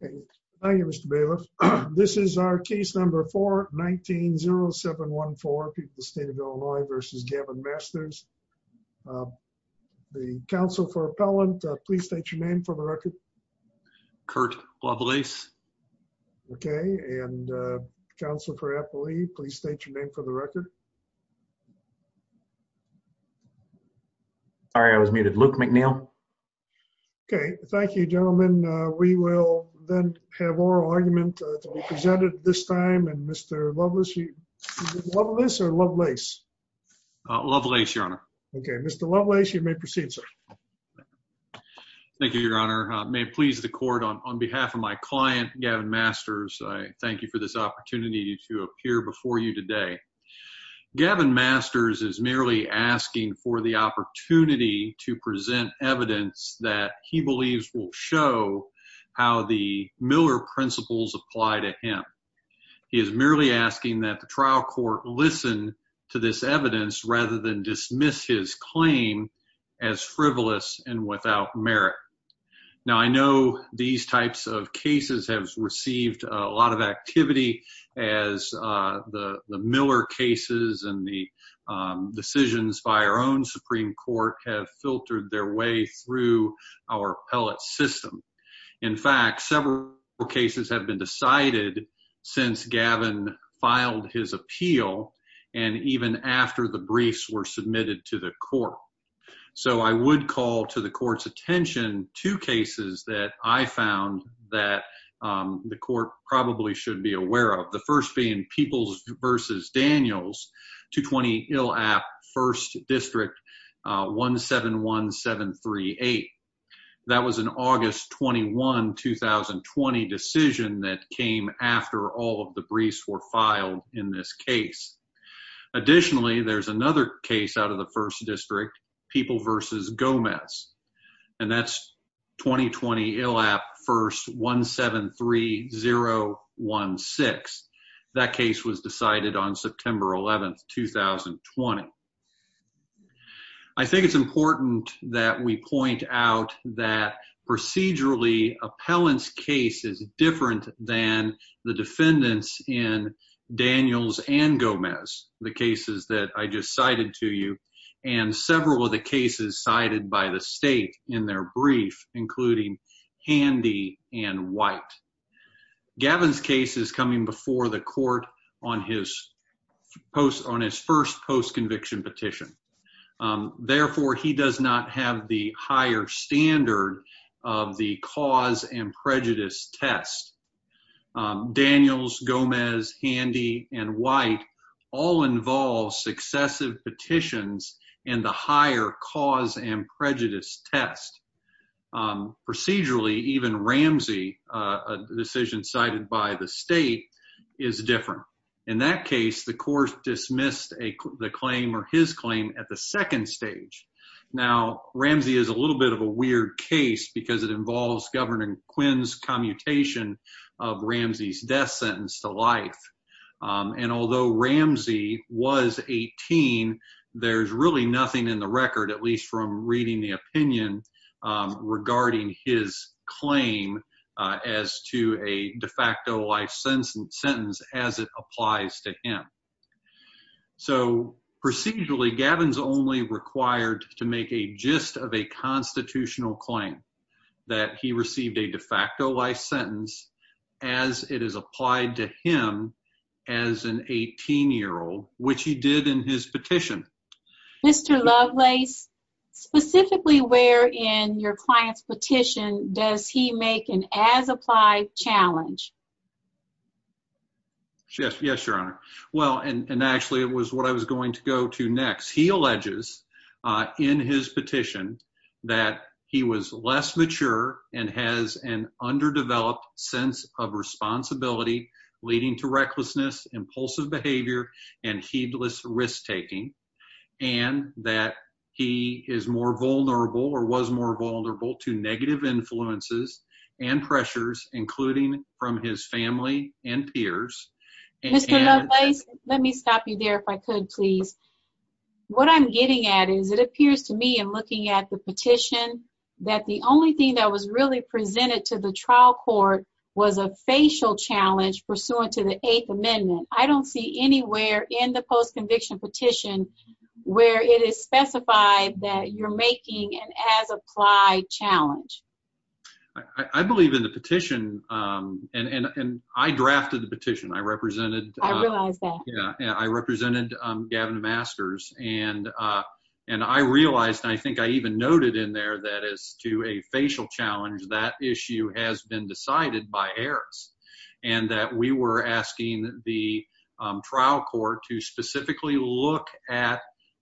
Thank you, Mr. Bailiff. This is our case number 419-0714. People of the State of Illinois v. Gavin Masters. The Counsel for Appellant, please state your name for the record. Kurt Wobbleis. Okay, and Counsel for Appellee, please state your name for the record. Sorry, I was muted. Luke McNeil. Okay, thank you, gentlemen. We will then have oral argument to be presented at this time. And Mr. Wobbleis, is it Wobbleis or Lovelace? Wobbleis, Your Honor. Okay, Mr. Wobbleis, you may proceed, sir. Thank you, Your Honor. May it please the Court, on behalf of my client, Gavin Masters, I thank you for this opportunity to appear before you today. Gavin Masters is merely asking for the opportunity to present evidence that he believes will show how the Miller principles apply to him. He is merely asking that the trial court listen to this evidence rather than dismiss his claim as frivolous and without merit. Now, I know these types of cases have received a lot of activity as the Miller cases and the decisions by our own Supreme Court have filtered their way through our appellate system. In fact, several cases have been decided since Gavin filed his appeal and even after the briefs were submitted to the court. So, I would call to the court's attention two cases that I found that the court probably should be aware of. The first being Peoples v. Daniels, 220 Illap, 1st District, 171738. That was an August 21, 2020 decision that came after all of the briefs were filed in this case. Additionally, there's another case out of the 1st District, Peoples v. Gomez, and that's 220 Illap, 1st, 173016. That case was decided on September 11, 2020. I think it's important that we point out that procedurally, appellant's case is different than the defendants in Daniels and Gomez. The cases that I just cited to you and several of the cases cited by the state in their brief, including Handy and White. Gavin's case is coming before the court on his first post-conviction petition. Therefore, he does not have the higher standard of the cause and prejudice test. Daniels, Gomez, Handy, and White all involve successive petitions and the higher cause and prejudice test. Procedurally, even Ramsey, a decision cited by the state, is different. In that case, the court dismissed the claim or his claim at the second stage. Now, Ramsey is a little bit of a weird case because it involves Governor Quinn's commutation of Ramsey's death sentence to life. And although Ramsey was 18, there's really nothing in the record, at least from reading the opinion, regarding his claim as to a de facto life sentence as it applies to him. So, procedurally, Gavin's only required to make a gist of a constitutional claim that he received a de facto life sentence as it is applied to him as an 18-year-old, which he did in his petition. Mr. Lovelace, specifically where in your client's petition does he make an as-applied challenge? Yes, Your Honor. Well, and actually it was what I was going to go to next. in his petition that he was less mature and has an underdeveloped sense of responsibility leading to recklessness, impulsive behavior, and heedless risk-taking, and that he is more vulnerable or was more vulnerable to negative influences and pressures, including from his family and peers. Mr. Lovelace, let me stop you there if I could, please. What I'm getting at is it appears to me in looking at the petition that the only thing that was really presented to the trial court was a facial challenge pursuant to the Eighth Amendment. I don't see anywhere in the post-conviction petition where it is specified that you're making an as-applied challenge. I believe in the petition, and I drafted the petition. I represented Gavin Masters, and I realized, and I think I even noted in there, that as to a facial challenge, that issue has been decided by heirs. And that we were asking the trial court to specifically look at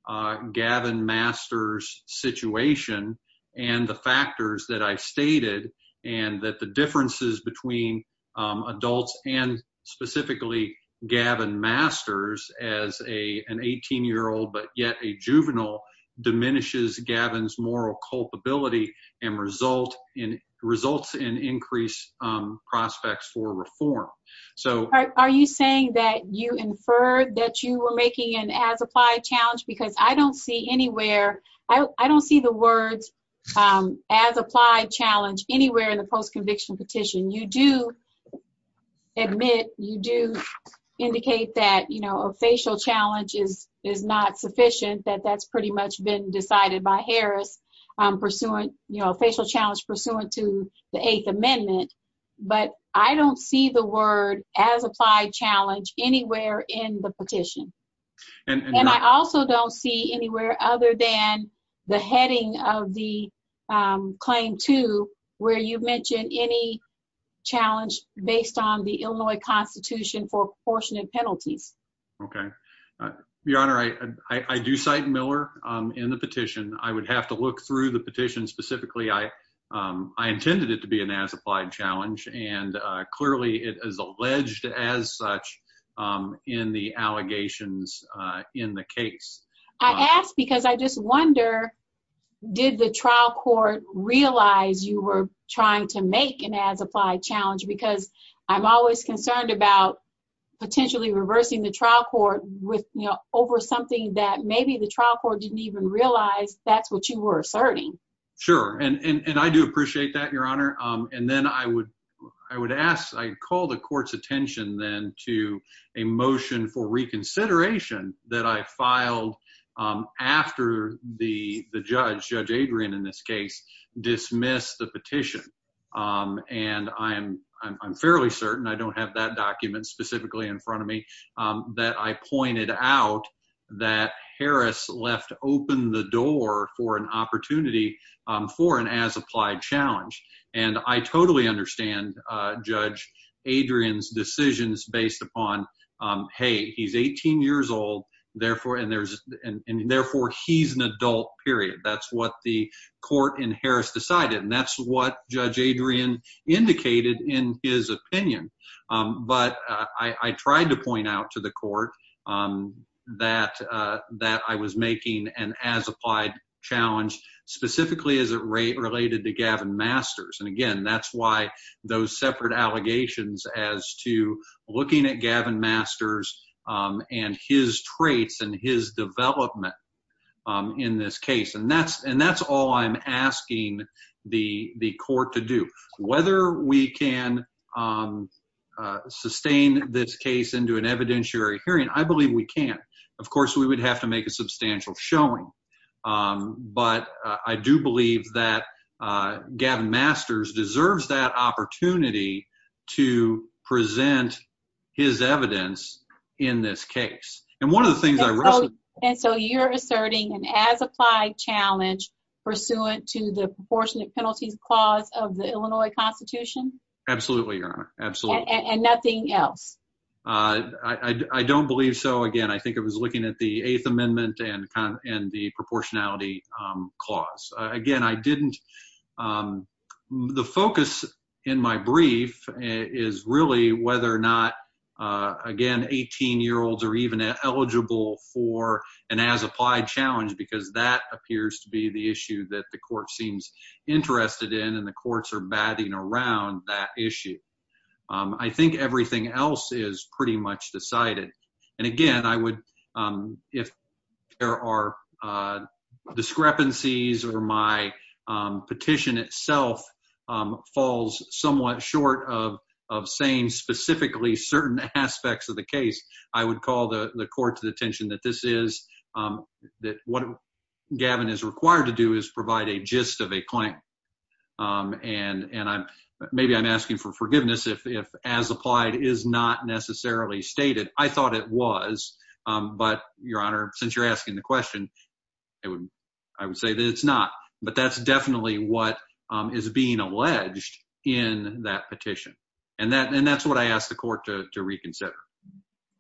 Gavin Masters' situation and the factors that I stated, and that the differences between adults and specifically Gavin Masters as an 18-year-old but yet a juvenile diminishes Gavin's moral culpability and results in increased prospects for conviction. Are you saying that you inferred that you were making an as-applied challenge? Because I don't see anywhere, I don't see the words as-applied challenge anywhere in the post-conviction petition. You do admit, you do indicate that a facial challenge is not sufficient, that that's pretty much been decided by Harris, a facial challenge pursuant to the Eighth Amendment, but I don't see the word as-applied challenge anywhere in the petition. And I also don't see anywhere other than the heading of the Claim 2, where you mention any challenge based on the Illinois Constitution for proportionate penalties. Okay. Your Honor, I do cite Miller in the petition. I would have to look through the petition specifically. I intended it to be an as-applied challenge, and clearly it is alleged as such in the allegations in the case. I ask because I just wonder, did the trial court realize you were trying to make an as-applied challenge? Because I'm always concerned about potentially reversing the trial court over something that maybe the trial court didn't even realize that's what you were asserting. Sure. And I do appreciate that, Your Honor. And then I would ask, I call the court's attention then to a motion for reconsideration that I filed after the judge, Judge Adrian in this case, dismissed the petition. And I'm fairly certain, I don't have that document specifically in front of me, that I pointed out that Harris left open the door for an opportunity for an as-applied challenge. And I totally understand Judge Adrian's decisions based upon, hey, he's 18 years old, and therefore he's an adult, period. That's what the court in Harris decided, and that's what Judge Adrian indicated in his opinion. But I tried to point out to the court that I was making an as-applied challenge specifically as it related to Gavin Masters. And again, that's why those separate allegations as to looking at Gavin Masters and his traits and his development in this case. And that's all I'm asking the court to do. Whether we can sustain this case into an evidentiary hearing, I believe we can. Of course, we would have to make a substantial showing. But I do believe that Gavin Masters deserves that opportunity to present his evidence in this case. And so you're asserting an as-applied challenge pursuant to the proportionate penalties clause of the Illinois Constitution? Absolutely, Your Honor. Absolutely. And nothing else? I don't believe so. Again, I think it was looking at the Eighth Amendment and the proportionality clause. Again, I didn't — the focus in my brief is really whether or not, again, 18-year-olds are even eligible for an as-applied challenge because that appears to be the issue that the court seems interested in, and the courts are batting around that issue. I think everything else is pretty much decided. And again, I would — if there are discrepancies or my petition itself falls somewhat short of saying specifically certain aspects of the case, I would call the court to the attention that this is — that what Gavin is required to do is provide a gist of a claim. And I'm — maybe I'm asking for forgiveness if as-applied is not necessarily stated. I thought it was. But, Your Honor, since you're asking the question, I would say that it's not. But that's definitely what is being alleged in that petition. And that's what I ask the court to reconsider.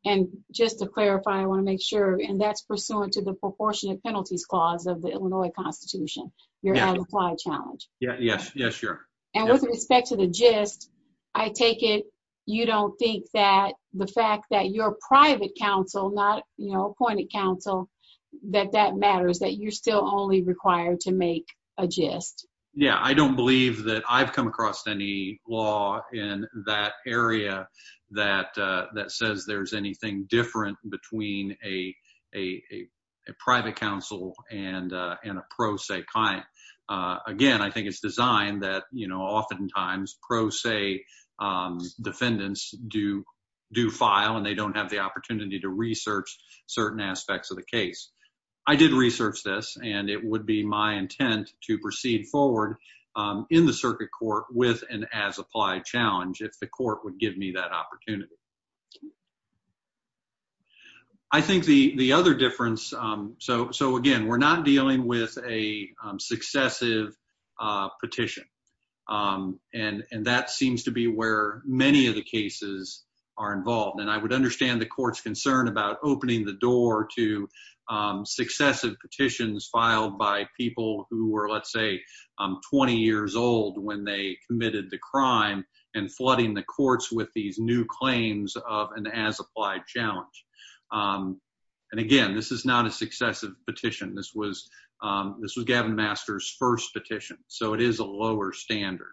And just to clarify, I want to make sure — and that's pursuant to the proportionate penalties clause of the Illinois Constitution, your as-applied challenge. Yes. Yes, Your Honor. And with respect to the gist, I take it you don't think that the fact that you're private counsel, not, you know, appointed counsel, that that matters, that you're still only required to make a gist? Yeah. I don't believe that I've come across any law in that area that says there's anything different between a private counsel and a pro se client. Again, I think it's designed that, you know, oftentimes pro se defendants do file, and they don't have the opportunity to research certain aspects of the case. I did research this, and it would be my intent to proceed forward in the circuit court with an as-applied challenge if the court would give me that opportunity. I think the other difference — so, again, we're not dealing with a successive petition, and that seems to be where many of the cases are involved. And I would understand the court's concern about opening the door to successive petitions filed by people who were, let's say, 20 years old when they committed the crime and flooding the courts with these new claims of an as-applied challenge. And, again, this is not a successive petition. This was Gavin Master's first petition, so it is a lower standard.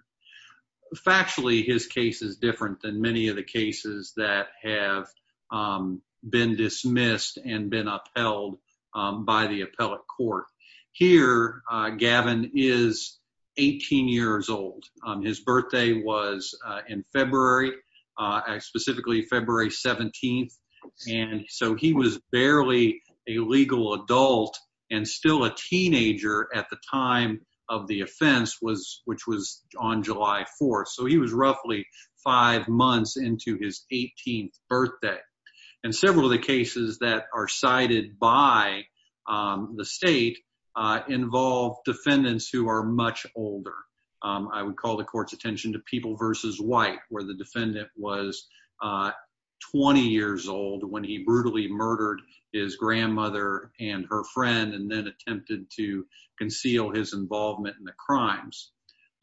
Factually, his case is different than many of the cases that have been dismissed and been upheld by the appellate court. Here, Gavin is 18 years old. His birthday was in February, specifically February 17th, and so he was barely a legal adult and still a teenager at the time of the offense, which was on July 4th. So he was roughly five months into his 18th birthday. And several of the cases that are cited by the state involve defendants who are much older. I would call the court's attention to People v. White, where the defendant was 20 years old when he brutally murdered his grandmother and her friend and then attempted to conceal his involvement in the crimes.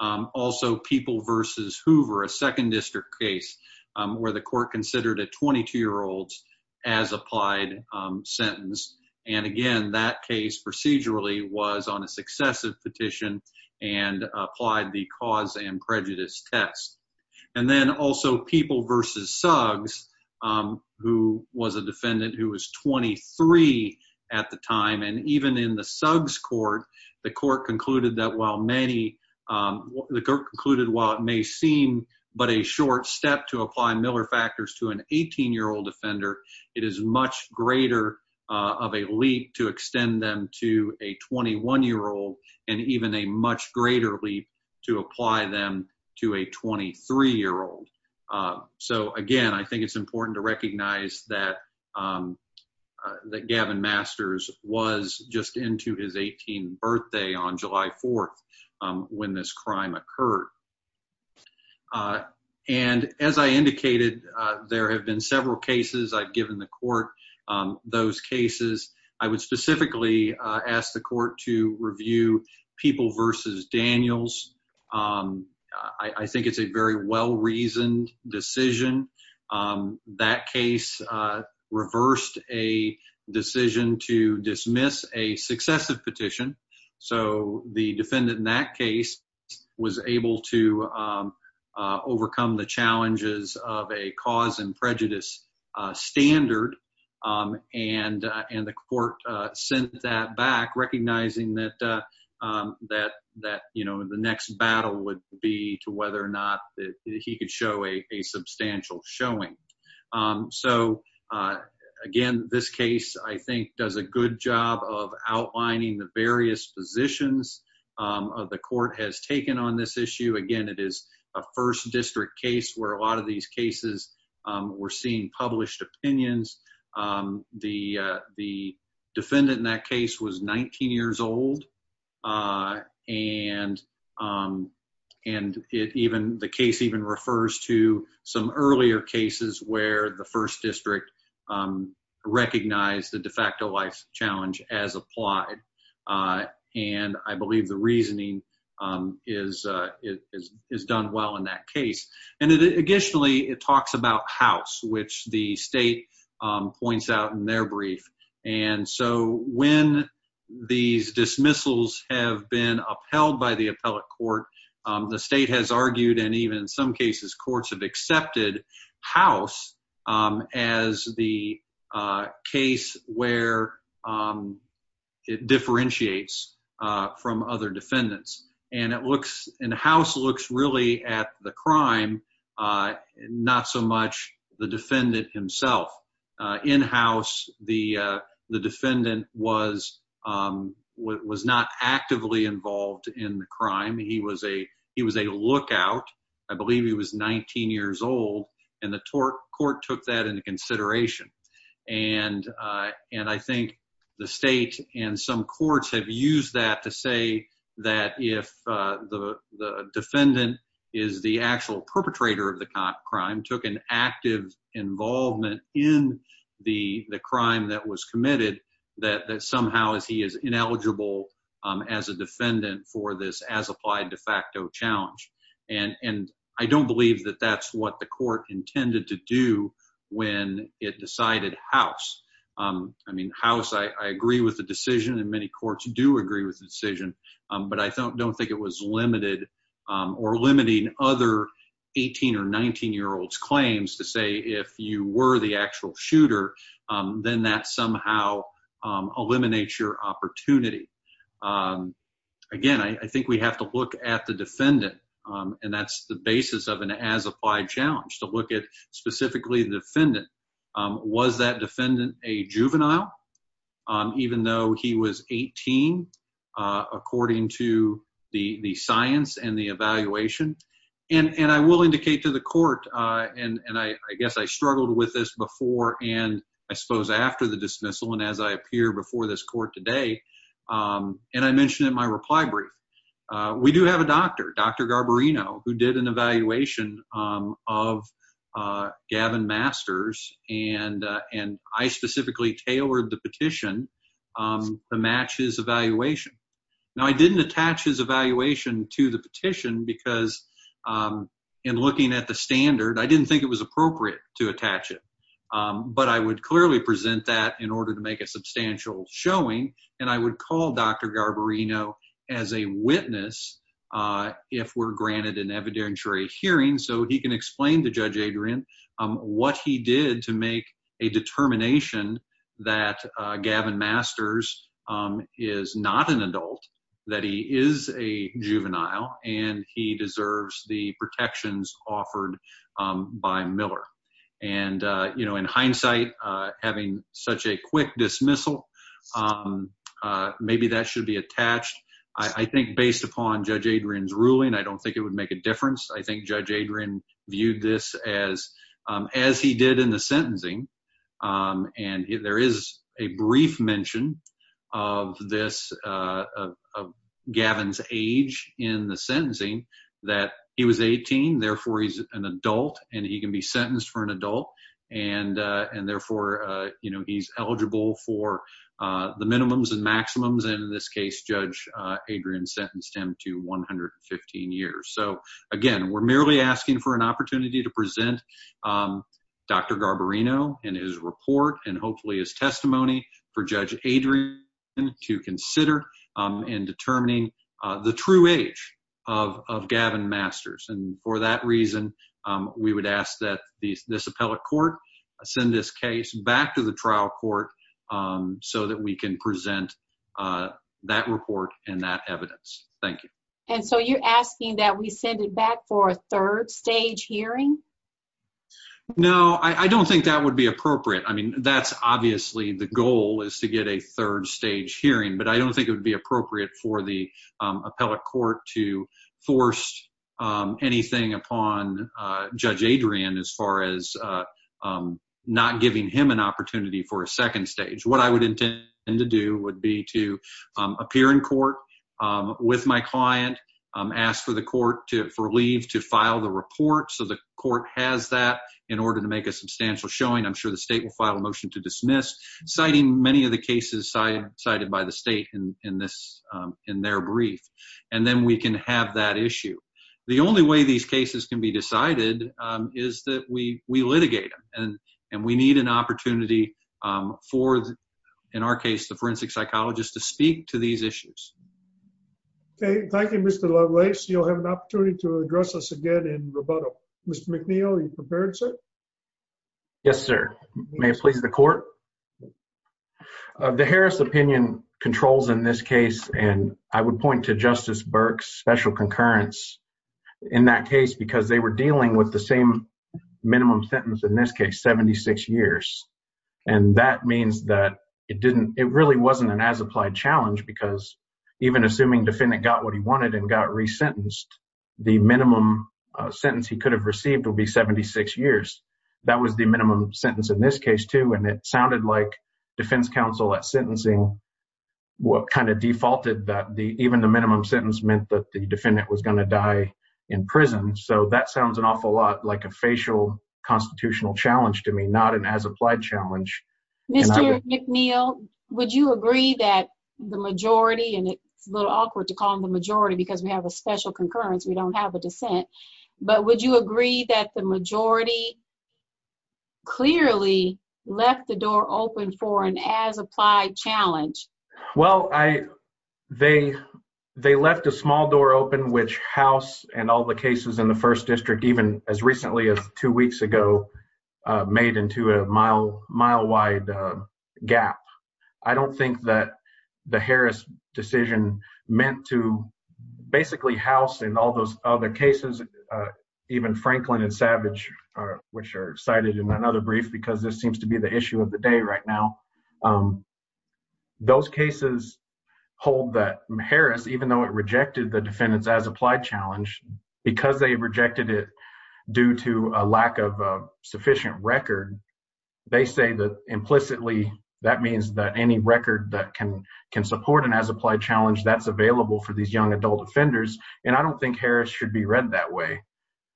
Also, People v. Hoover, a second district case, where the court considered a 22-year-old's as-applied sentence. And, again, that case procedurally was on a successive petition and applied the cause and prejudice test. And then also People v. Suggs, who was a defendant who was 23 at the time. And even in the Suggs court, the court concluded that while it may seem but a short step to apply Miller factors to an 18-year-old offender, it is much greater of a leap to extend them to a 21-year-old and even a much greater leap to apply them to a 23-year-old. So, again, I think it's important to recognize that Gavin Masters was just into his 18th birthday on July 4th when this crime occurred. And as I indicated, there have been several cases I've given the court those cases. I would specifically ask the court to review People v. Daniels. I think it's a very well-reasoned decision. That case reversed a decision to dismiss a successive petition. So the defendant in that case was able to overcome the challenges of a cause and prejudice standard. And the court sent that back, recognizing that the next battle would be to whether or not he could show a substantial showing. So, again, this case, I think, does a good job of outlining the various positions the court has taken on this issue. Again, it is a first district case where a lot of these cases were seeing published opinions. The defendant in that case was 19 years old. And the case even refers to some earlier cases where the first district recognized the de facto life challenge as applied. And I believe the reasoning is done well in that case. And additionally, it talks about House, which the state points out in their brief. And so when these dismissals have been upheld by the appellate court, the state has argued and even in some cases courts have accepted House as the case where it differentiates from other defendants. And House looks really at the crime, not so much the defendant himself. In House, the defendant was not actively involved in the crime. He was a lookout. I believe he was 19 years old. And the court took that into consideration. And I think the state and some courts have used that to say that if the defendant is the actual perpetrator of the crime, took an active involvement in the crime that was committed, that somehow he is ineligible as a defendant for this as applied de facto challenge. And I don't believe that that's what the court intended to do when it decided House. I mean, House, I agree with the decision and many courts do agree with the decision. But I don't think it was limited or limiting other 18 or 19 year olds claims to say if you were the actual shooter, then that somehow eliminates your opportunity. Again, I think we have to look at the defendant. And that's the basis of an as applied challenge, to look at specifically the defendant. Was that defendant a juvenile, even though he was 18, according to the science and the evaluation? And I will indicate to the court, and I guess I struggled with this before and I suppose after the dismissal and as I appear before this court today, and I mentioned in my reply brief, we do have a doctor, Dr. Garbarino, who did an evaluation of Gavin Masters and I specifically tailored the petition to match his evaluation. Now, I didn't attach his evaluation to the petition because in looking at the standard, I didn't think it was appropriate to attach it, but I would clearly present that in order to make a substantial showing. And I would call Dr. Garbarino as a witness if we're granted an evidentiary hearing so he can explain to Judge Adrian what he did to make a determination that Gavin Masters is not an adult, that he is a juvenile, and he deserves the protections offered by Miller. And in hindsight, having such a quick dismissal, maybe that should be attached. I think based upon Judge Adrian's ruling, I don't think it would make a difference. I think Judge Adrian viewed this as he did in the sentencing. And there is a brief mention of this, of Gavin's age in the sentencing, that he was 18, therefore he's an adult and he can be sentenced for an adult, and therefore, you know, he's eligible for the minimums and maximums, and in this case, Judge Adrian sentenced him to 115 years. So again, we're merely asking for an opportunity to present Dr. Garbarino and his report and hopefully his testimony for Judge Adrian to consider in determining the true age of Gavin Masters. And for that reason, we would ask that this appellate court send this case back to the trial court so that we can present that report and that evidence. Thank you. And so you're asking that we send it back for a third stage hearing? No, I don't think that would be appropriate. I mean, that's obviously the goal is to get a third stage hearing, but I don't think it would be appropriate for the appellate court to force anything upon Judge Adrian as far as not giving him an opportunity for a second stage. What I would intend to do would be to appear in court with my client, ask for the court for leave to file the report so the court has that in order to make a substantial showing. I'm sure the state will file a motion to dismiss, citing many of the cases cited by the state in their brief, and then we can have that issue. The only way these cases can be decided is that we litigate them, and we need an opportunity for, in our case, the forensic psychologist to speak to these issues. Okay, thank you, Mr. Lovelace. You'll have an opportunity to address us again in rebuttal. Mr. McNeil, are you prepared, sir? Yes, sir. May it please the court? The Harris opinion controls in this case, and I would point to Justice Burke's special concurrence in that case because they were dealing with the same minimum sentence in this case, 76 years. And that means that it really wasn't an as-applied challenge because even assuming defendant got what he wanted and got resentenced, the minimum sentence he could have received would be 76 years. That was the minimum sentence in this case, too, and it sounded like defense counsel at sentencing kind of defaulted that even the minimum sentence meant that the defendant was going to die in prison. So, that sounds an awful lot like a facial constitutional challenge to me, not an as-applied challenge. Mr. McNeil, would you agree that the majority, and it's a little awkward to call them the majority because we have a special concurrence, we don't have a dissent, but would you agree that the majority clearly left the door open for an as-applied challenge? Well, they left a small door open, which House and all the cases in the first district, even as recently as two weeks ago, made into a mile-wide gap. I don't think that the Harris decision meant to basically House and all those other cases, even Franklin and Savage, which are cited in another brief because this seems to be the issue of the day right now. Those cases hold that Harris, even though it rejected the defendant's as-applied challenge, because they rejected it due to a lack of sufficient record, they say that implicitly that means that any record that can support an as-applied challenge, that's available for these young adult offenders, and I don't think Harris should be read that way.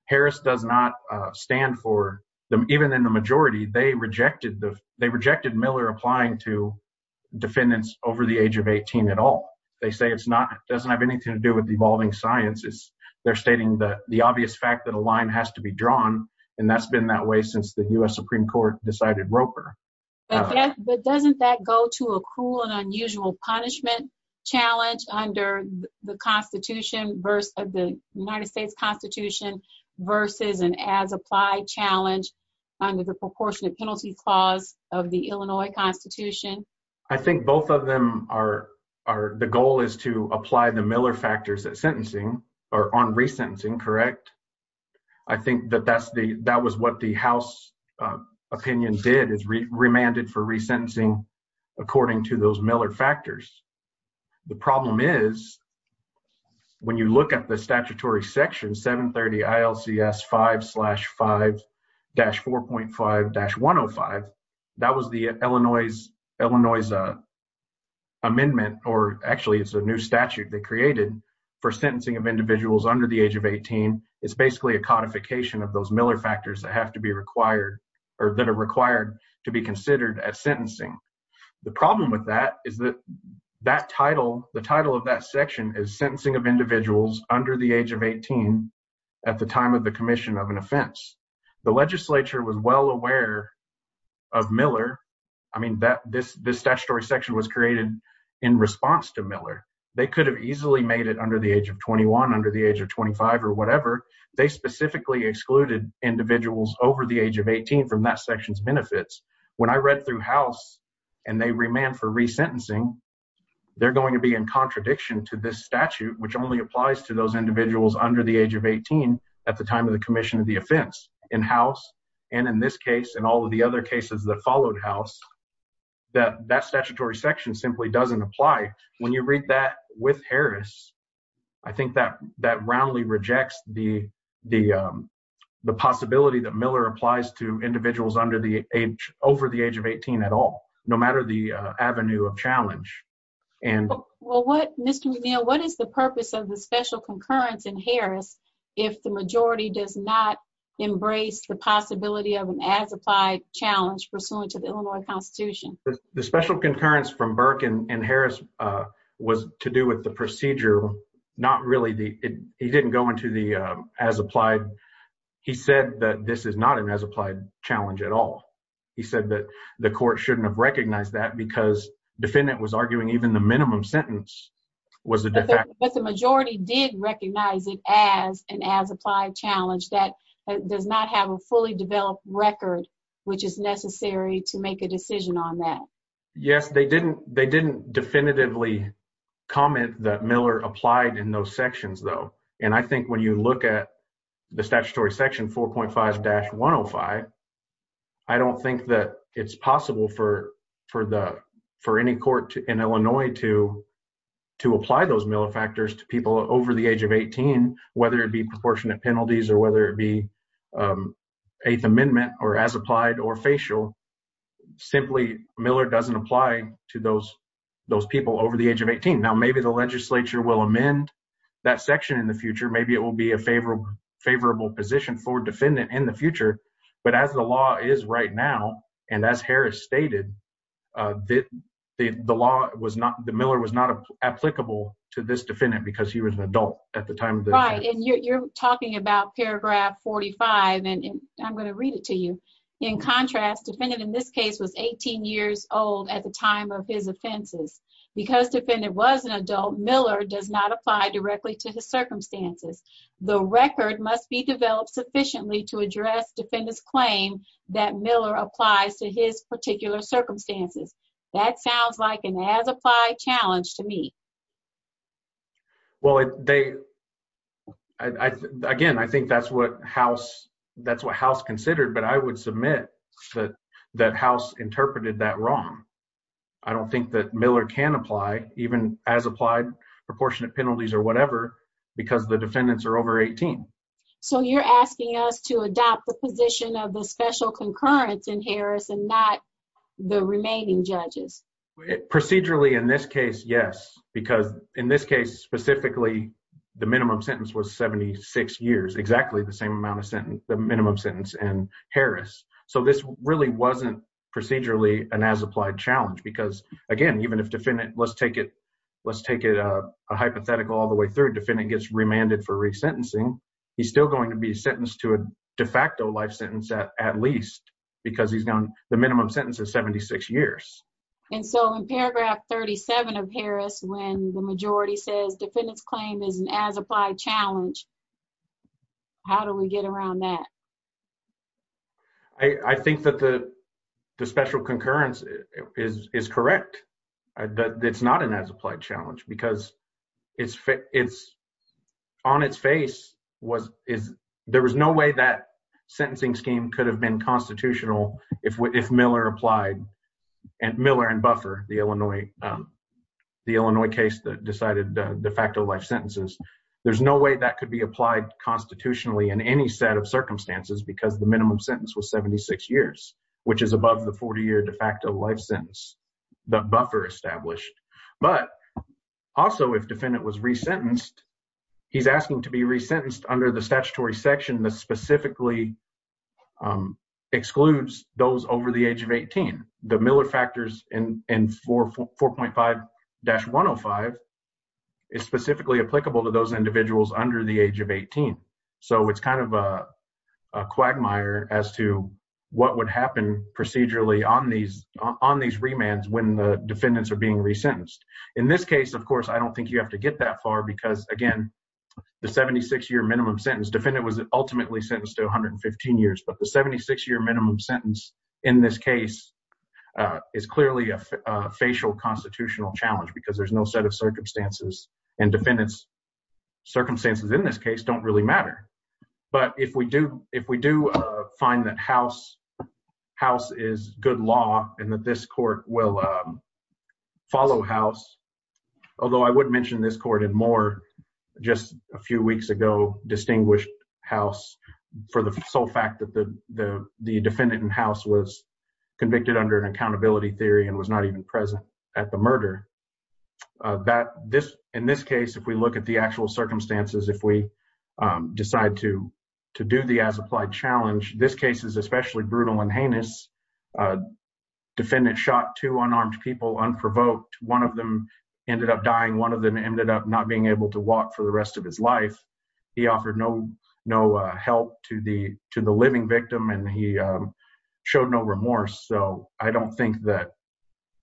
Harris does not stand for, even in the majority, they rejected Miller applying to defendants over the age of 18 at all. They say it doesn't have anything to do with evolving science, they're stating the obvious fact that a line has to be drawn, and that's been that way since the U.S. Supreme Court decided Roper. But doesn't that go to a cruel and unusual punishment challenge under the United States Constitution versus an as-applied challenge under the Proportionate Penalty Clause of the Illinois Constitution? I think both of them are, the goal is to apply the Miller factors at sentencing, or on resentencing, correct? I think that that was what the House opinion did, is remanded for resentencing according to those Miller factors. The problem is, when you look at the statutory section, 730 ILCS 5-5-4.5-105, that was the Illinois amendment, or actually it's a new statute they created, for sentencing of individuals under the age of 18. It's basically a codification of those Miller factors that have to be required, or that are required to be considered at sentencing. The problem with that is that that title, the title of that section, is sentencing of individuals under the age of 18 at the time of the commission of an offense. The legislature was well aware of Miller. I mean, this statutory section was created in response to Miller. They could have easily made it under the age of 21, under the age of 25, or whatever. They specifically excluded individuals over the age of 18 from that section's benefits. When I read through House, and they remanded for resentencing, they're going to be in contradiction to this statute, which only applies to those individuals under the age of 18 at the time of the commission of the offense. In House, and in this case, and all of the other cases that followed House, that statutory section simply doesn't apply. When you read that with Harris, I think that that roundly rejects the possibility that Miller applies to individuals over the age of 18 at all, no matter the avenue of challenge. Well, what, Mr. McNeil, what is the purpose of the special concurrence in Harris if the majority does not embrace the possibility of an as-applied challenge pursuant to the Illinois Constitution? The special concurrence from Burke and Harris was to do with the procedure, not really the, he didn't go into the as-applied. He said that this is not an as-applied challenge at all. He said that the court shouldn't have recognized that because defendant was arguing even the minimum sentence was a de facto. But the majority did recognize it as an as-applied challenge that does not have a fully developed record, which is necessary to make a decision on that. Yes, they didn't definitively comment that Miller applied in those sections, though. And I think when you look at the statutory section 4.5-105, I don't think that it's possible for any court in Illinois to apply those Miller factors to people over the age of 18, whether it be proportionate penalties or whether it be Eighth Amendment or as-applied or facial. Simply, Miller doesn't apply to those people over the age of 18. Now, maybe the legislature will amend that section in the future. Maybe it will be a favorable position for defendant in the future. But as the law is right now, and as Harris stated, the law was not, the Miller was not applicable to this defendant because he was an adult at the time. Right, and you're talking about paragraph 45, and I'm going to read it to you. In contrast, defendant in this case was 18 years old at the time of his offenses. Because defendant was an adult, Miller does not apply directly to his circumstances. The record must be developed sufficiently to address defendant's claim that Miller applies to his particular circumstances. That sounds like an as-applied challenge to me. Well, again, I think that's what House considered, but I would submit that House interpreted that wrong. I don't think that Miller can apply, even as-applied, proportionate penalties or whatever, because the defendants are over 18. So you're asking us to adopt the position of the special concurrence in Harris and not the remaining judges? Procedurally, in this case, yes, because in this case, specifically, the minimum sentence was 76 years. Exactly the same amount of sentence, the minimum sentence in Harris. So this really wasn't procedurally an as-applied challenge because, again, even if defendant, let's take it, let's take it a hypothetical all the way through. Defendant gets remanded for resentencing. He's still going to be sentenced to a de facto life sentence at least because he's gone, the minimum sentence is 76 years. And so in paragraph 37 of Harris, when the majority says defendant's claim is an as-applied challenge, how do we get around that? I think that the special concurrence is correct. It's not an as-applied challenge because on its face, there was no way that sentencing scheme could have been constitutional if Miller applied. Miller and Buffer, the Illinois case that decided de facto life sentences, there's no way that could be applied constitutionally in any set of circumstances because the minimum sentence was 76 years, which is above the 40-year de facto life sentence that Buffer established. But also, if defendant was resentenced, he's asking to be resentenced under the statutory section that specifically excludes those over the age of 18. The Miller factors in 4.5-105 is specifically applicable to those individuals under the age of 18. So it's kind of a quagmire as to what would happen procedurally on these remands when the defendants are being resentenced. In this case, of course, I don't think you have to get that far because, again, the 76-year minimum sentence, defendant was ultimately sentenced to 115 years, but the 76-year minimum sentence in this case is clearly a facial constitutional challenge because there's no set of circumstances, and defendants' circumstances in this case don't really matter. But if we do find that House is good law and that this court will follow House, although I would mention this court and Moore just a few weeks ago distinguished House for the sole fact that the defendant in House was convicted under an accountability theory and was not even present at the murder. In this case, if we look at the actual circumstances, if we decide to do the as-applied challenge, this case is especially brutal and heinous. Defendant shot two unarmed people, unprovoked. One of them ended up dying. One of them ended up not being able to walk for the rest of his life. He offered no help to the living victim, and he showed no remorse. So I don't think that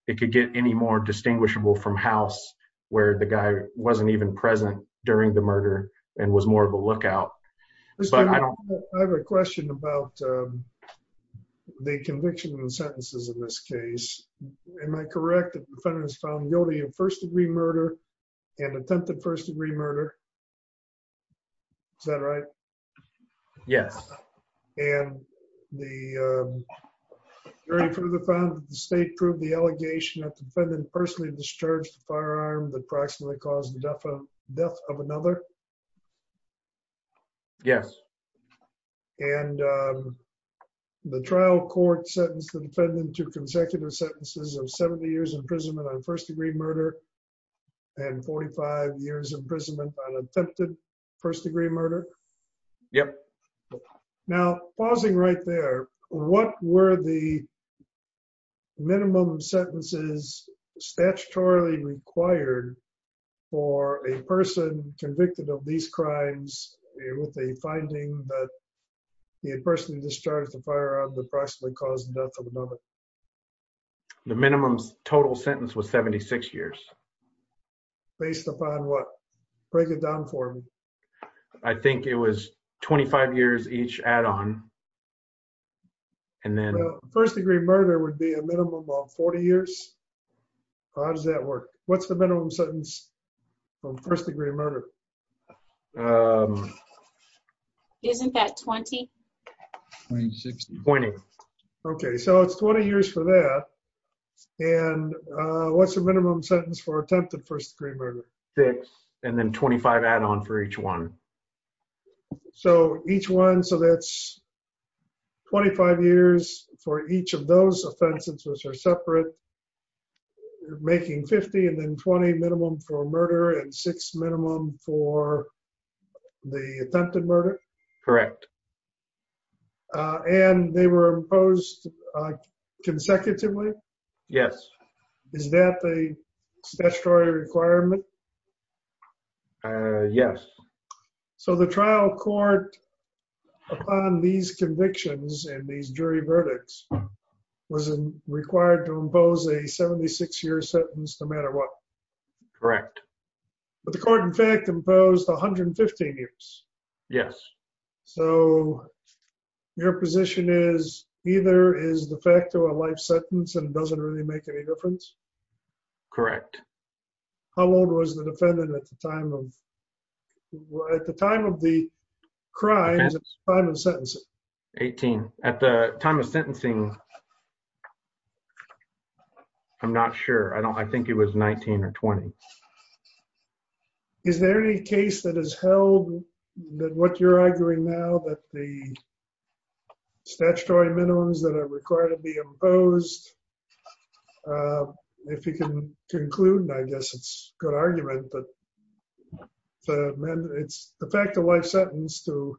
it could get any more distinguishable from House where the guy wasn't even present during the murder and was more of a lookout. I have a question about the conviction and sentences in this case. Am I correct that the defendant is found guilty of first-degree murder and attempted first-degree murder? Is that right? Yes. And the jury further found that the state proved the allegation that the defendant personally discharged a firearm that approximately caused the death of another? Yes. And the trial court sentenced the defendant to consecutive sentences of 70 years imprisonment on first-degree murder and 45 years imprisonment on attempted first-degree murder? Yep. Now, pausing right there, what were the minimum sentences statutorily required for a person convicted of these crimes with a finding that he had personally discharged a firearm that approximately caused the death of another? The minimum total sentence was 76 years. Based upon what? Break it down for me. I think it was 25 years each add-on. First-degree murder would be a minimum of 40 years? How does that work? What's the minimum sentence for first-degree murder? Isn't that 20? 20. Okay, so it's 20 years for that. And what's the minimum sentence for attempted first-degree murder? And then 25 add-on for each one. So each one, so that's 25 years for each of those offenses, which are separate, making 50 and then 20 minimum for murder and six minimum for the attempted murder? Correct. And they were imposed consecutively? Yes. Is that the statutory requirement? Yes. So the trial court, upon these convictions and these jury verdicts, was required to impose a 76-year sentence no matter what? Correct. But the court, in fact, imposed 115 years. Yes. So your position is either is the fact or a life sentence and it doesn't really make any difference? Correct. How old was the defendant at the time of the crime, the time of sentencing? 18. At the time of sentencing, I'm not sure. I think it was 19 or 20. Is there any case that has held that what you're arguing now, that the statutory minimums that are required to be imposed, if you can conclude, I guess it's a good argument. It's the fact or life sentence to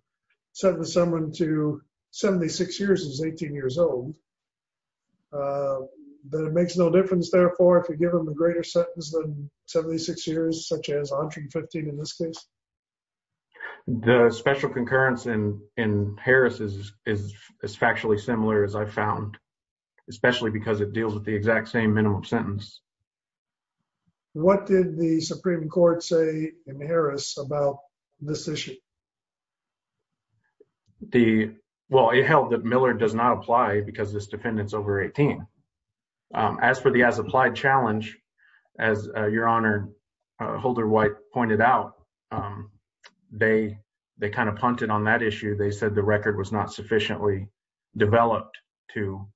sentence someone to 76 years is 18 years old. But it makes no difference, therefore, if you give them a greater sentence than 76 years, such as 115 in this case? The special concurrence in Harris is as factually similar as I found, especially because it deals with the exact same minimum sentence. What did the Supreme Court say in Harris about this issue? Well, it held that Miller does not apply because this defendant's over 18. As for the as-applied challenge, as Your Honor, Holder White pointed out, they kind of punted on that issue. They said the record was not sufficiently developed to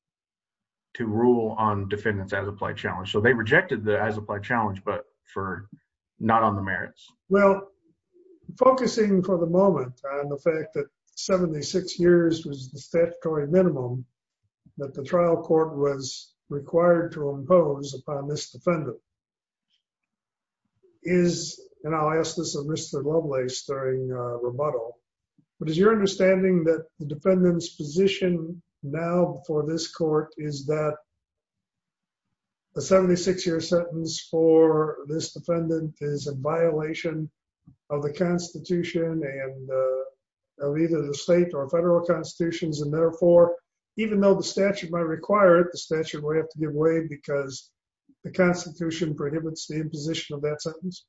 rule on defendants as applied challenge. So they rejected the as-applied challenge, but for not on the merits. Well, focusing for the moment on the fact that 76 years was the statutory minimum that the trial court was required to impose upon this defendant is, and I'll ask this of Mr. Lovelace during rebuttal. But is your understanding that the defendant's position now before this court is that a 76-year sentence for this defendant is a violation of the Constitution and of either the state or federal constitutions? And therefore, even though the statute might require it, the statute will have to give way because the Constitution prohibits the imposition of that sentence?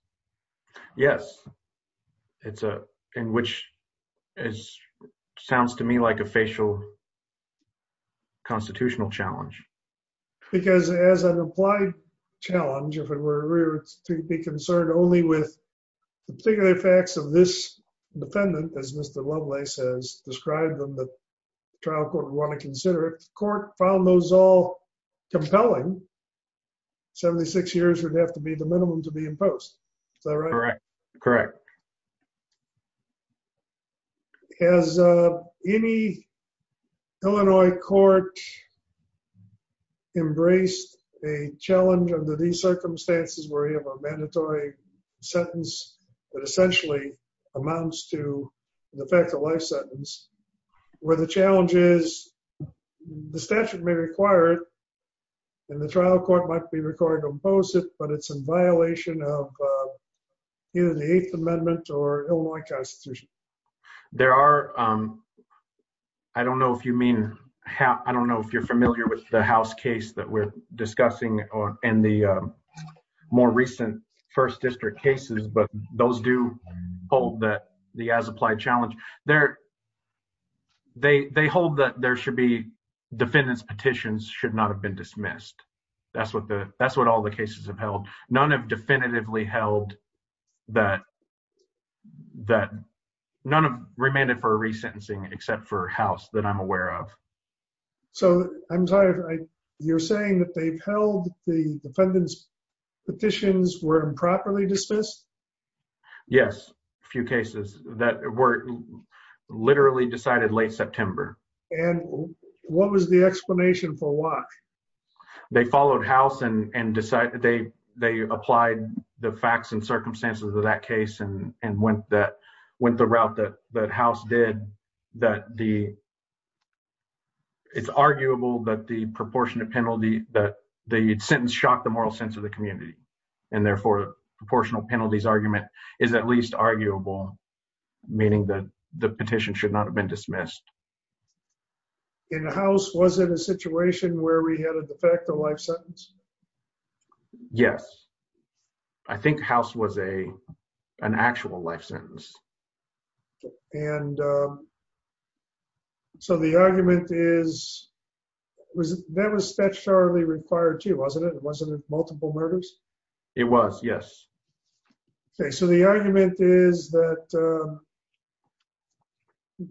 Yes. In which it sounds to me like a facial constitutional challenge. Because as an applied challenge, if it were to be concerned only with the particular facts of this defendant, as Mr. Lovelace has described them that the trial court would want to consider, if the court found those all compelling, 76 years would have to be the minimum to be imposed. Is that right? Correct. Has any Illinois court embraced a challenge under these circumstances where you have a mandatory sentence that essentially amounts to the fact of life sentence, where the challenge is the statute may require it, and the trial court might be required to impose it, but it's in violation of either the agency or the statute. There are, I don't know if you mean, I don't know if you're familiar with the house case that we're discussing in the more recent first district cases, but those do hold that the as applied challenge, they hold that there should be defendants petitions should not have been dismissed. That's what the, that's what all the cases have held. None have definitively held that, that none have remanded for a resentencing except for house that I'm aware of. So, I'm sorry, you're saying that they've held the defendants petitions were improperly dismissed? Yes, a few cases that were literally decided late September. And what was the explanation for why? They followed house and decided they, they applied the facts and circumstances of that case and went that went the route that that house did that the. It's arguable that the proportionate penalty that the sentence shocked the moral sense of the community, and therefore proportional penalties argument is at least arguable, meaning that the petition should not have been dismissed. In the house was in a situation where we had a de facto life sentence. Yes. I think house was a, an actual life sentence. And so the argument is, was that was statutorily required to wasn't it wasn't it multiple murders. It was yes. Okay, so the argument is that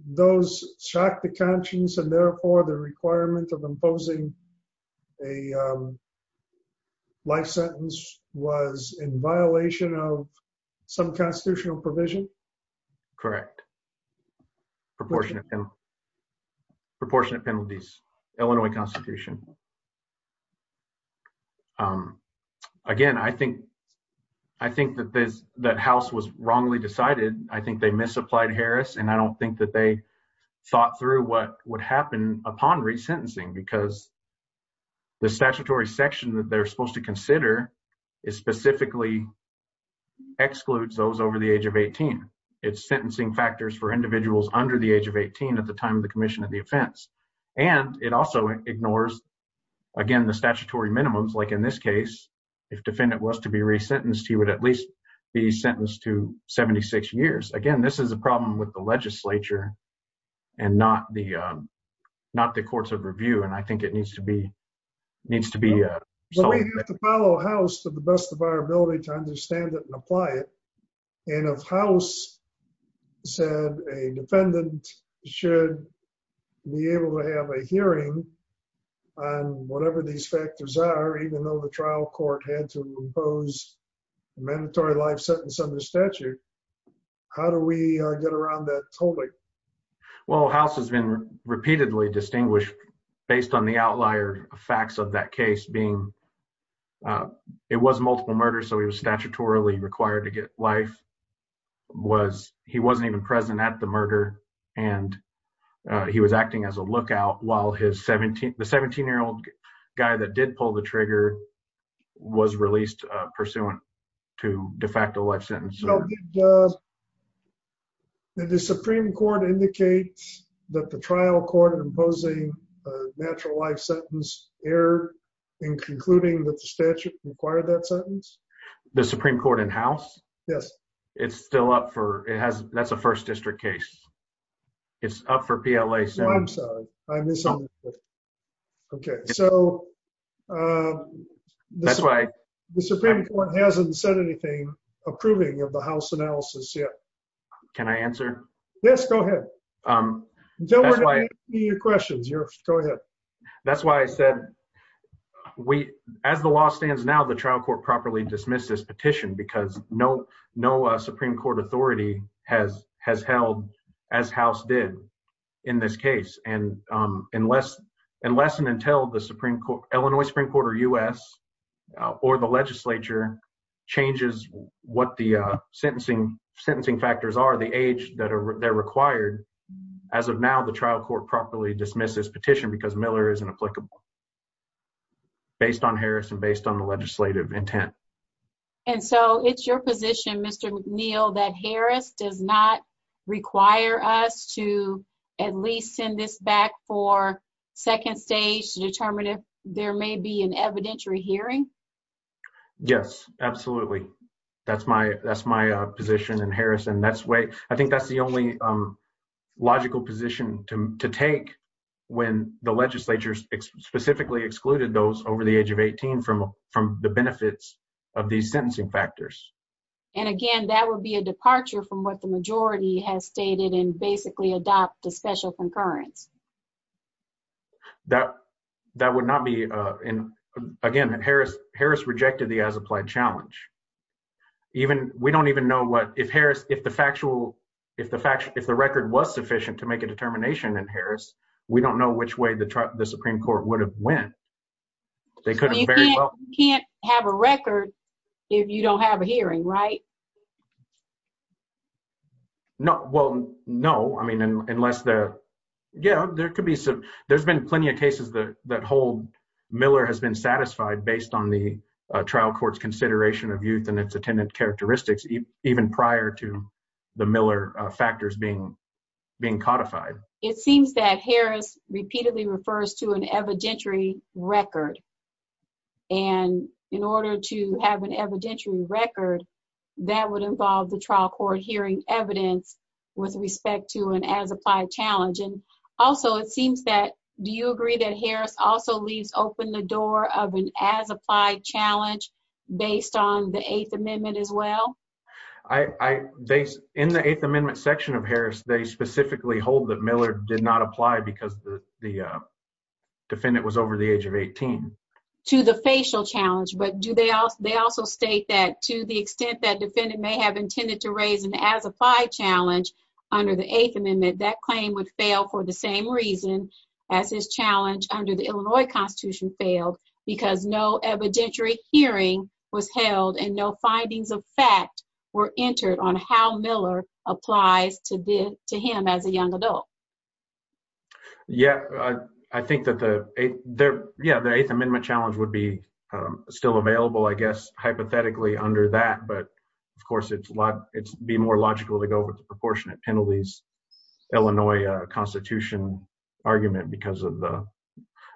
those shocked the conscience and therefore the requirement of imposing a life sentence was in violation of some constitutional provision. Correct. Proportionate. Proportionate penalties, Illinois Constitution. Again, I think, I think that this that house was wrongly decided, I think they misapplied Harris and I don't think that they thought through what would happen upon resentencing because the statutory section that they're supposed to consider is specifically excludes those over the age of 18. It's sentencing factors for individuals under the age of 18 at the time of the commission of the offense. And it also ignores. Again, the statutory minimums like in this case, if defendant was to be resentenced he would at least be sentenced to 76 years again this is a problem with the legislature and not the not the courts of review and I think it needs to be needs to be Follow house to the best of our ability to understand it and apply it in a house said a defendant should be able to have a hearing on whatever these factors are even though the trial court had to impose mandatory life sentence under statute. How do we get around that totally Well house has been repeatedly distinguished based on the outlier facts of that case being It was multiple murder. So he was statutorily required to get life was he wasn't even present at the murder, and he was acting as a lookout while his 17 the 17 year old guy that did pull the trigger was released pursuant to de facto life sentence. The Supreme Court indicates that the trial court imposing natural life sentence error in concluding that the statute required that sentence. The Supreme Court in house. Yes, it's still up for it has. That's a first district case. It's up for PLA. So I'm sorry, I missed Okay, so This way. The Supreme Court hasn't said anything approving of the house analysis yet. Can I answer Yes, go ahead. Um, Don't worry. Your questions. You're Go ahead. That's why I said We as the law stands. Now the trial court properly dismiss this petition because no no Supreme Court authority has has held as house did In this case, and unless unless and until the Supreme Court, Illinois Supreme Court or us or the legislature changes what the sentencing sentencing factors are the age that are required. As of now, the trial court properly dismisses petition because Miller is an applicable Based on Harris and based on the legislative intent. And so it's your position, Mr. Neal that Harris does not require us to at least send this back for second stage to determine if there may be an evidentiary hearing. Yes, absolutely. That's my, that's my position and Harrison that's way. I think that's the only logical position to take when the legislature specifically excluded those over the age of 18 from from the benefits of the sentencing factors. And again, that would be a departure from what the majority has stated in basically adopt a special concurrence That that would not be in again and Harris Harris rejected the as applied challenge. Even we don't even know what if Harris, if the factual if the fact if the record was sufficient to make a determination and Harris. We don't know which way the the Supreme Court would have went They could Can't have a record. If you don't have a hearing right No. Well, no. I mean, unless the yeah there could be some there's been plenty of cases that that whole Miller has been satisfied based on the trial courts consideration of youth and its attendant characteristics, even prior to the Miller factors being being codified It seems that Harris repeatedly refers to an evidentiary record. And in order to have an evidentiary record that would involve the trial court hearing evidence with respect to an as applied challenge and also it seems that do you agree that Harris also leaves open the door of an as applied challenge based on the Eighth Amendment as well. I they in the Eighth Amendment section of Harris, they specifically hold that Miller did not apply because the the defendant was over the age of 18 To the facial challenge. But do they all. They also state that to the extent that defendant may have intended to raise an as applied challenge. Under the Eighth Amendment that claim would fail for the same reason as his challenge under the Illinois Constitution failed because no evidentiary hearing was held and no findings of fact were entered on how Miller applies to the to him as a young adult. Yeah, I think that the there. Yeah, the Eighth Amendment challenge would be still available, I guess, hypothetically under that. But of course, it's a lot. It's be more logical to go with the proportionate penalties. Illinois Constitution argument because of the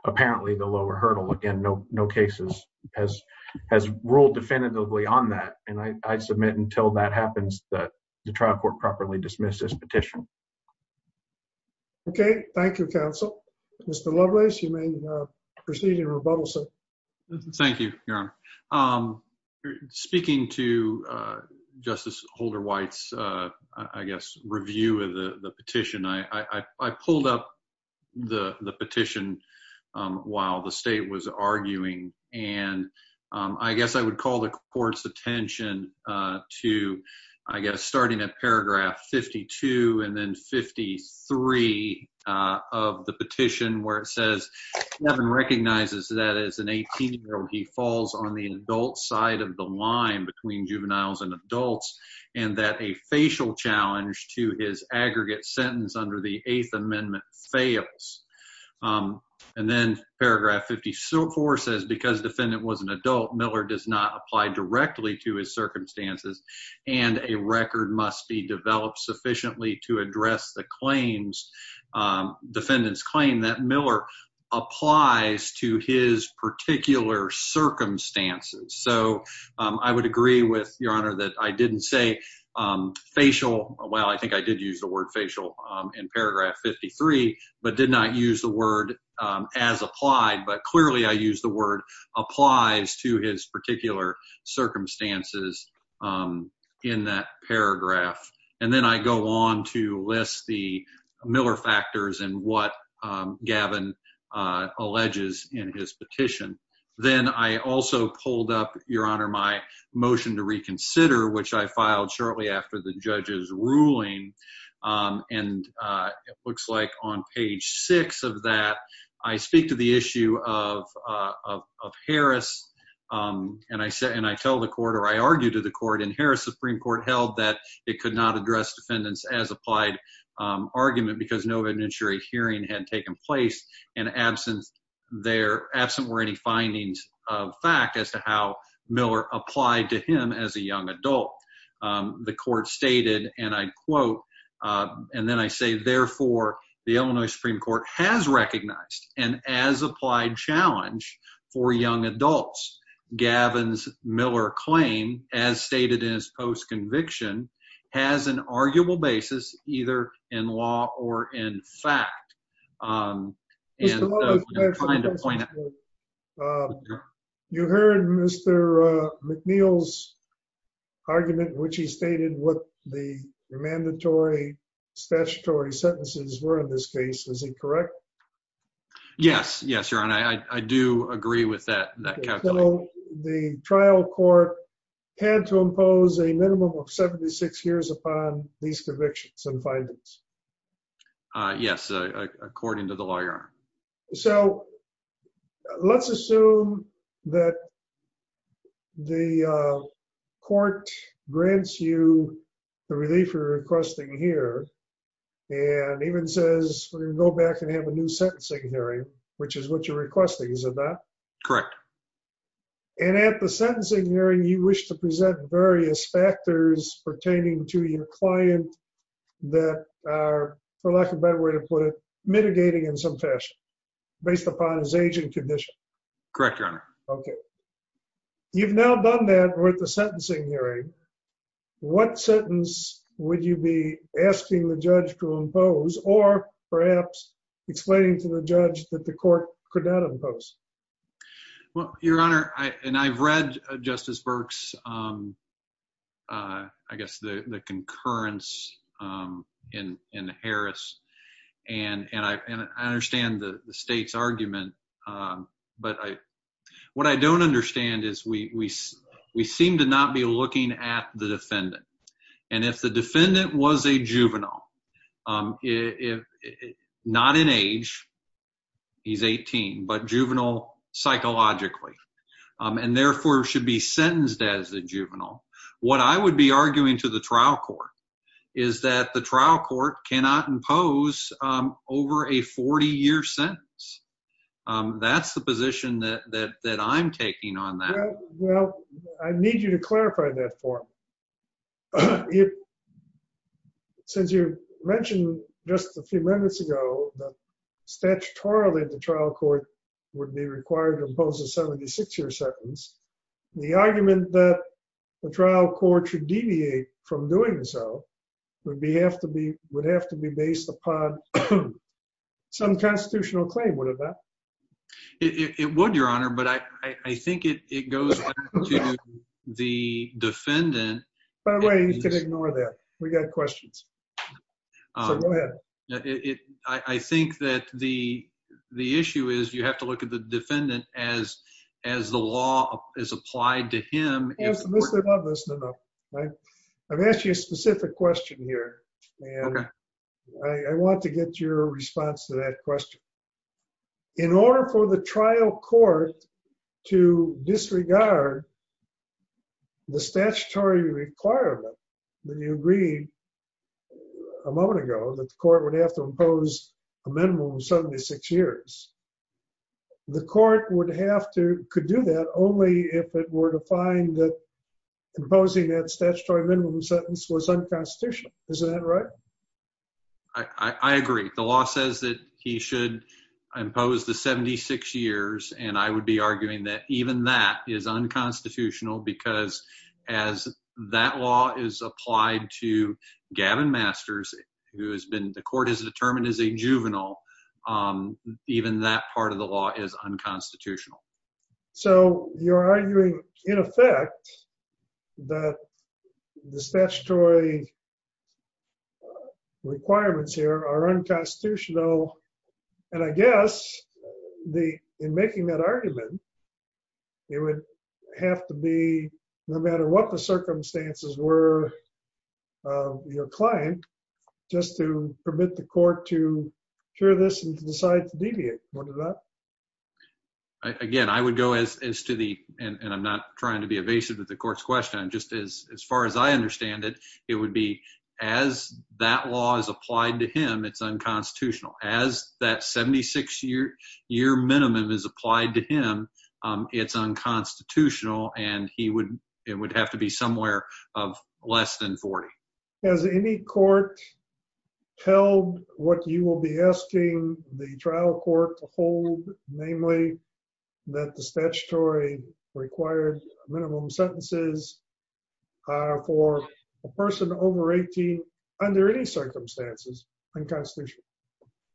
apparently the lower hurdle. Again, no, no cases has has ruled definitively on that and I submit until that happens that the trial court properly dismiss this petition. Okay, thank you, counsel. Mr. Lovelace you may proceed in rebuttal. So, Thank you. I'm speaking to Justice holder whites, I guess, review of the petition. I pulled up the petition. While the state was arguing, and I guess I would call the courts attention to, I guess, starting at paragraph 52 and then 53 of the petition, where it says, Heaven recognizes that as an 18 year old, he falls on the adult side of the line between juveniles and adults and that a facial challenge to his aggregate sentence under the Eighth Amendment fails. And then paragraph 50 so forces because defendant was an adult Miller does not apply directly to his circumstances and a record must be developed sufficiently to address the claims. Defendants claim that Miller applies to his particular circumstances. So I would agree with your honor that I didn't say Well, I think I did use the word facial in paragraph 53 but did not use the word as applied, but clearly I use the word applies to his particular circumstances. In that paragraph, and then I go on to list the Miller factors and what Gavin alleges in his petition. Then I also pulled up your honor my motion to reconsider, which I filed shortly after the judges ruling. And it looks like on page six of that I speak to the issue of of Harris and I said, and I tell the court or I argued to the court in Harris Supreme Court held that it could not address defendants as applied. The court stated, and I quote, and then I say, therefore, the Illinois Supreme Court has recognized and as applied challenge for young adults Gavin's Miller claim, as stated in his post conviction has an arguable basis, either for a juvenile conviction or for a juvenile conviction. In fact, You heard Mr. McNeil's argument, which he stated what the mandatory statutory sentences were in this case. Is he correct. Yes, yes, your honor. I do agree with that. The trial court had to impose a minimum of 76 years upon these convictions and findings. Yes, according to the lawyer. So let's assume that the court grants you the relief requesting here and even says, we're going to go back and have a new sentencing hearing, which is what you're requesting. Is that correct. And at the sentencing hearing you wish to present various factors pertaining to your client that are, for lack of a better way to put it, mitigating in some fashion, based upon his age and condition. Correct. Okay. You've now done that with the sentencing hearing. What sentence, would you be asking the judge to impose or perhaps explaining to the judge that the court could not impose. Well, your honor, I and I've read Justice Burke's I guess the concurrence in Harris and I understand the state's argument, but what I don't understand is we seem to not be looking at the defendant. And if the defendant was a juvenile, not in age, he's 18, but juvenile psychologically and therefore should be sentenced as a juvenile. What I would be arguing to the trial court is that the trial court cannot impose over a 40 year sentence. That's the position that I'm taking on that. Well, I need you to clarify that for me. Since you mentioned just a few minutes ago that statutorily the trial court would be required to impose a 76 year sentence, the argument that the trial court should deviate from doing so would have to be based upon some constitutional claim. Would it not? It would, your honor, but I think it goes to the defendant. By the way, you can ignore that. We got questions. I think that the the issue is you have to look at the defendant as as the law is applied to him. I've asked you a specific question here, and I want to get your response to that question. In order for the trial court to disregard the statutory requirement that you agreed a moment ago that the court would have to impose a minimum of 76 years, the court would have to could do that only if it were to find that imposing that statutory minimum sentence was unconstitutional. Is that right? I agree. The law says that he should impose the 76 years. And I would be arguing that even that is unconstitutional because as that law is applied to Gavin Masters, who has been the court is determined as a juvenile, even that part of the law is unconstitutional. So you're arguing, in effect, that the statutory Requirements here are unconstitutional. And I guess the in making that argument. It would have to be no matter what the circumstances were. Your client just to permit the court to hear this and decide to deviate. Again, I would go as to the and I'm not trying to be evasive with the courts question just as as far as I understand it, it would be as that law is applied to him. It's unconstitutional as that 76 year year minimum is applied to him. It's unconstitutional and he would, it would have to be somewhere of less than 40 As any court tell what you will be asking the trial court to hold namely that the statutory required minimum sentences for a person over 18 under any circumstances unconstitutional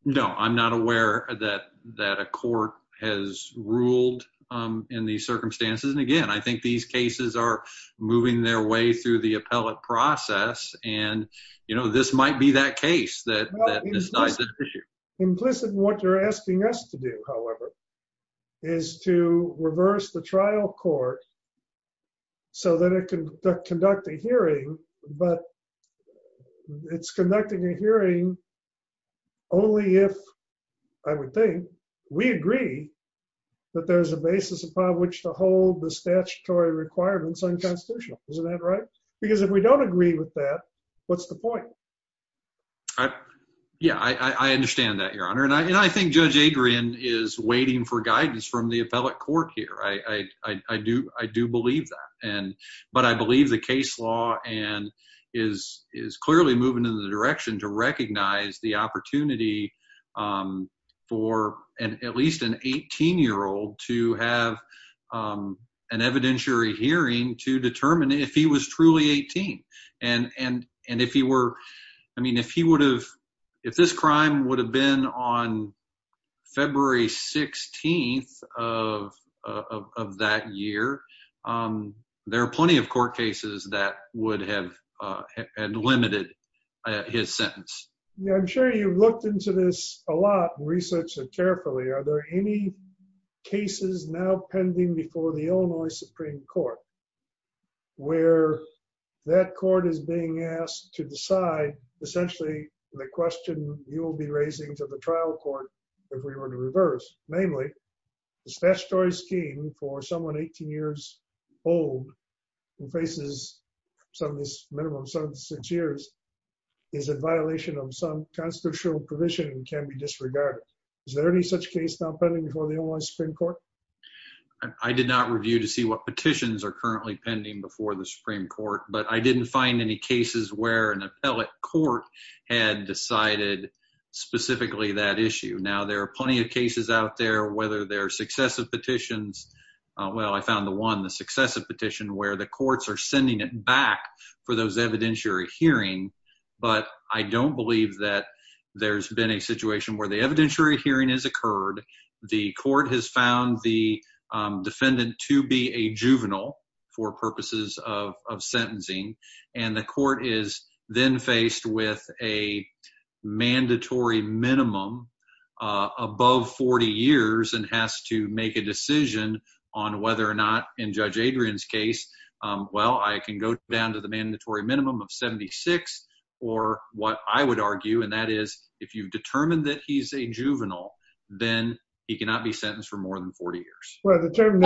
No, I'm not aware that that a court has ruled in the circumstances. And again, I think these cases are moving their way through the appellate process. And, you know, this might be that case that Implicit what you're asking us to do, however, is to reverse the trial court. So that it can conduct a hearing, but It's conducting a hearing. Only if I would think we agree that there's a basis upon which to hold the statutory requirements unconstitutional. Is that right, because if we don't agree with that. What's the point Yeah, I understand that your honor and I and I think Judge Adrian is waiting for guidance from the appellate court here. I, I do. I do believe that and but I believe the case law and is is clearly moving in the direction to recognize the opportunity For an at least an 18 year old to have An evidentiary hearing to determine if he was truly 18 and and and if he were. I mean, if he would have if this crime would have been on February 16 of that year. There are plenty of court cases that would have had limited his sentence. Yeah, I'm sure you've looked into this a lot research and carefully. Are there any cases now pending before the Illinois Supreme Court. Where that court is being asked to decide essentially the question you will be raising to the trial court. If we were to reverse, namely. The statutory scheme for someone 18 years old and faces some of these minimum seven, six years is a violation of some constitutional provision can be disregarded. Is there any such case now pending before the only spring court. I did not review to see what petitions are currently pending before the Supreme Court, but I didn't find any cases where an appellate court had decided Specifically that issue. Now there are plenty of cases out there, whether they're successive petitions. Well, I found the one the successive petition where the courts are sending it back for those evidentiary hearing But I don't believe that there's been a situation where the evidentiary hearing has occurred. The court has found the Defendant to be a juvenile for purposes of sentencing and the court is then faced with a mandatory minimum. Above 40 years and has to make a decision on whether or not in Judge Adrian's case. Well, I can go down to the mandatory minimum of 76 or what I would argue, and that is if you've determined that he's a juvenile, then he cannot be sentenced for more than 40 years Well, the term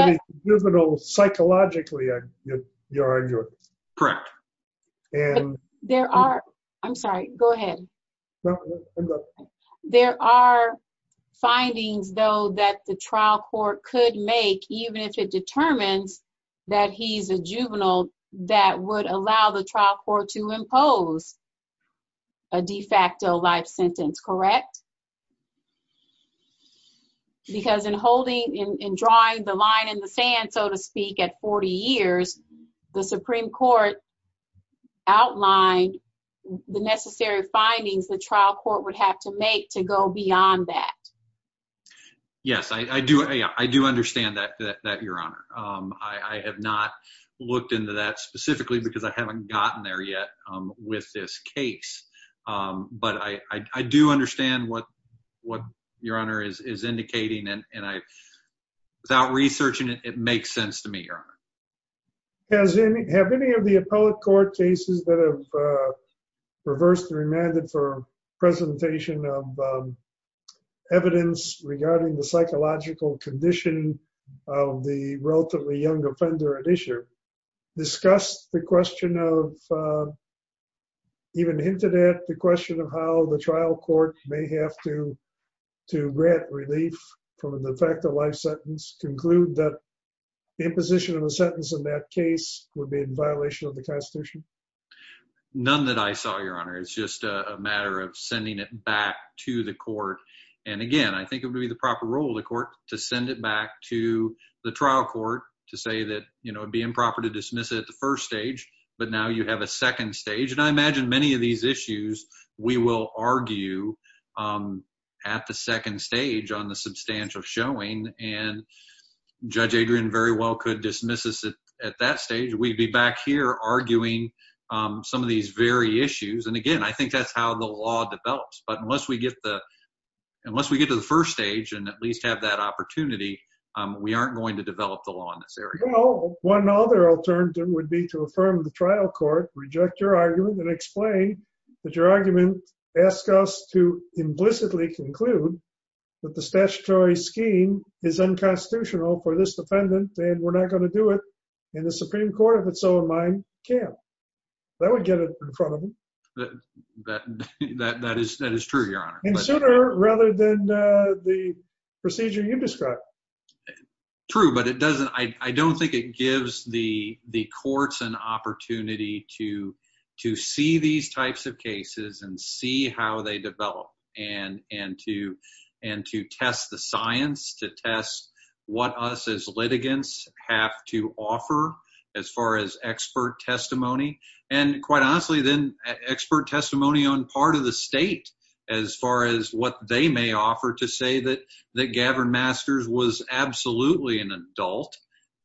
juvenile psychologically. Correct. And there are. I'm sorry. Go ahead. There are findings, though, that the trial court could make even if it determines that he's a juvenile that would allow the trial court to impose A de facto life sentence. Correct. Because in holding in drawing the line in the sand, so to speak, at 40 years the Supreme Court outlined the necessary findings, the trial court would have to make to go beyond that. Yes, I do. I do understand that that your honor. I have not looked into that specifically because I haven't gotten there yet with this case, but I do understand what what your honor is is indicating and I without researching it makes sense to me. As any have any of the appellate court cases that have Reversed remanded for presentation of Evidence regarding the psychological condition of the relatively young offender at issue discussed the question of Even hinted at the question of how the trial court may have to to grant relief from the fact that life sentence conclude that imposition of a sentence in that case would be in violation of the Constitution. None that I saw your honor. It's just a matter of sending it back to the court. And again, I think it would be the proper role the court to send it back to the trial court to say that, you know, it'd be improper to dismiss it at the first stage, but now you have a second stage and I imagine many of these issues, we will argue At the second stage on the substantial showing and judge Adrian very well could dismiss us at that stage. We'd be back here arguing Some of these very issues. And again, I think that's how the law develops. But unless we get the unless we get to the first stage and at least have that opportunity. We aren't going to develop the law in this area. Well, one other alternative would be to affirm the trial court reject your argument and explain that your argument. Ask us to implicitly conclude That the statutory scheme is unconstitutional for this defendant and we're not going to do it in the Supreme Court of its own mind. Yeah, that would get it in front of me. That that is that is true, your honor. Rather than the procedure you described True, but it doesn't. I don't think it gives the the courts and opportunity to to see these types of cases and see how they develop and and to And to test the science to test what us as litigants have to offer as far as expert testimony and quite honestly then expert testimony on part of the state. As far as what they may offer to say that that Gavin masters was absolutely an adult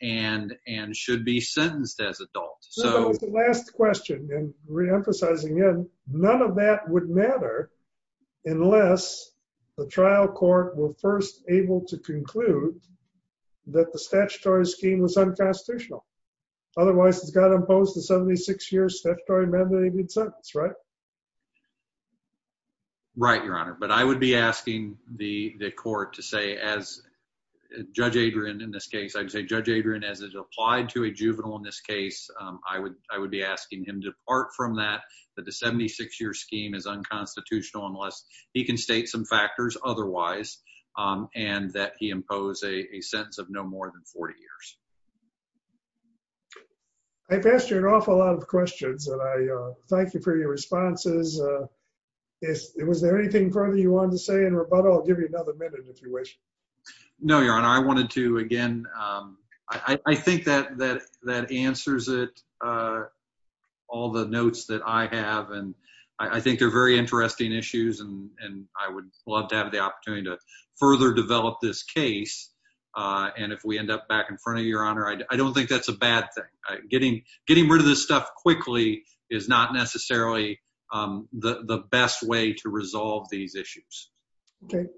and and should be sentenced as adults. So last question and reemphasizing in none of that would matter. Unless the trial court will first able to conclude that the statutory scheme was unconstitutional. Otherwise, it's got imposed a 76 year statutory mandate sentence. Right. Right, your honor, but I would be asking the the court to say as Judge Adrian. In this case, I'd say, Judge Adrian, as it applied to a juvenile. In this case, I would, I would be asking him to part from that that the 76 year scheme is unconstitutional unless he can state some factors. Otherwise, and that he impose a sense of no more than 40 years I passed you an awful lot of questions and I thank you for your responses. Is it was there anything further you want to say in rebuttal. Give me another minute, if you wish. No, your honor. I wanted to, again, I think that that that answers it. All the notes that I have. And I think they're very interesting issues and I would love to have the opportunity to further develop this case. And if we end up back in front of your honor. I don't think that's a bad thing. Getting, getting rid of this stuff quickly is not necessarily the best way to resolve these issues.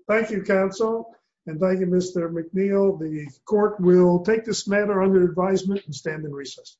Thank you counsel and thank you, Mr. McNeil, the court will take this matter under advisement and stand in recess.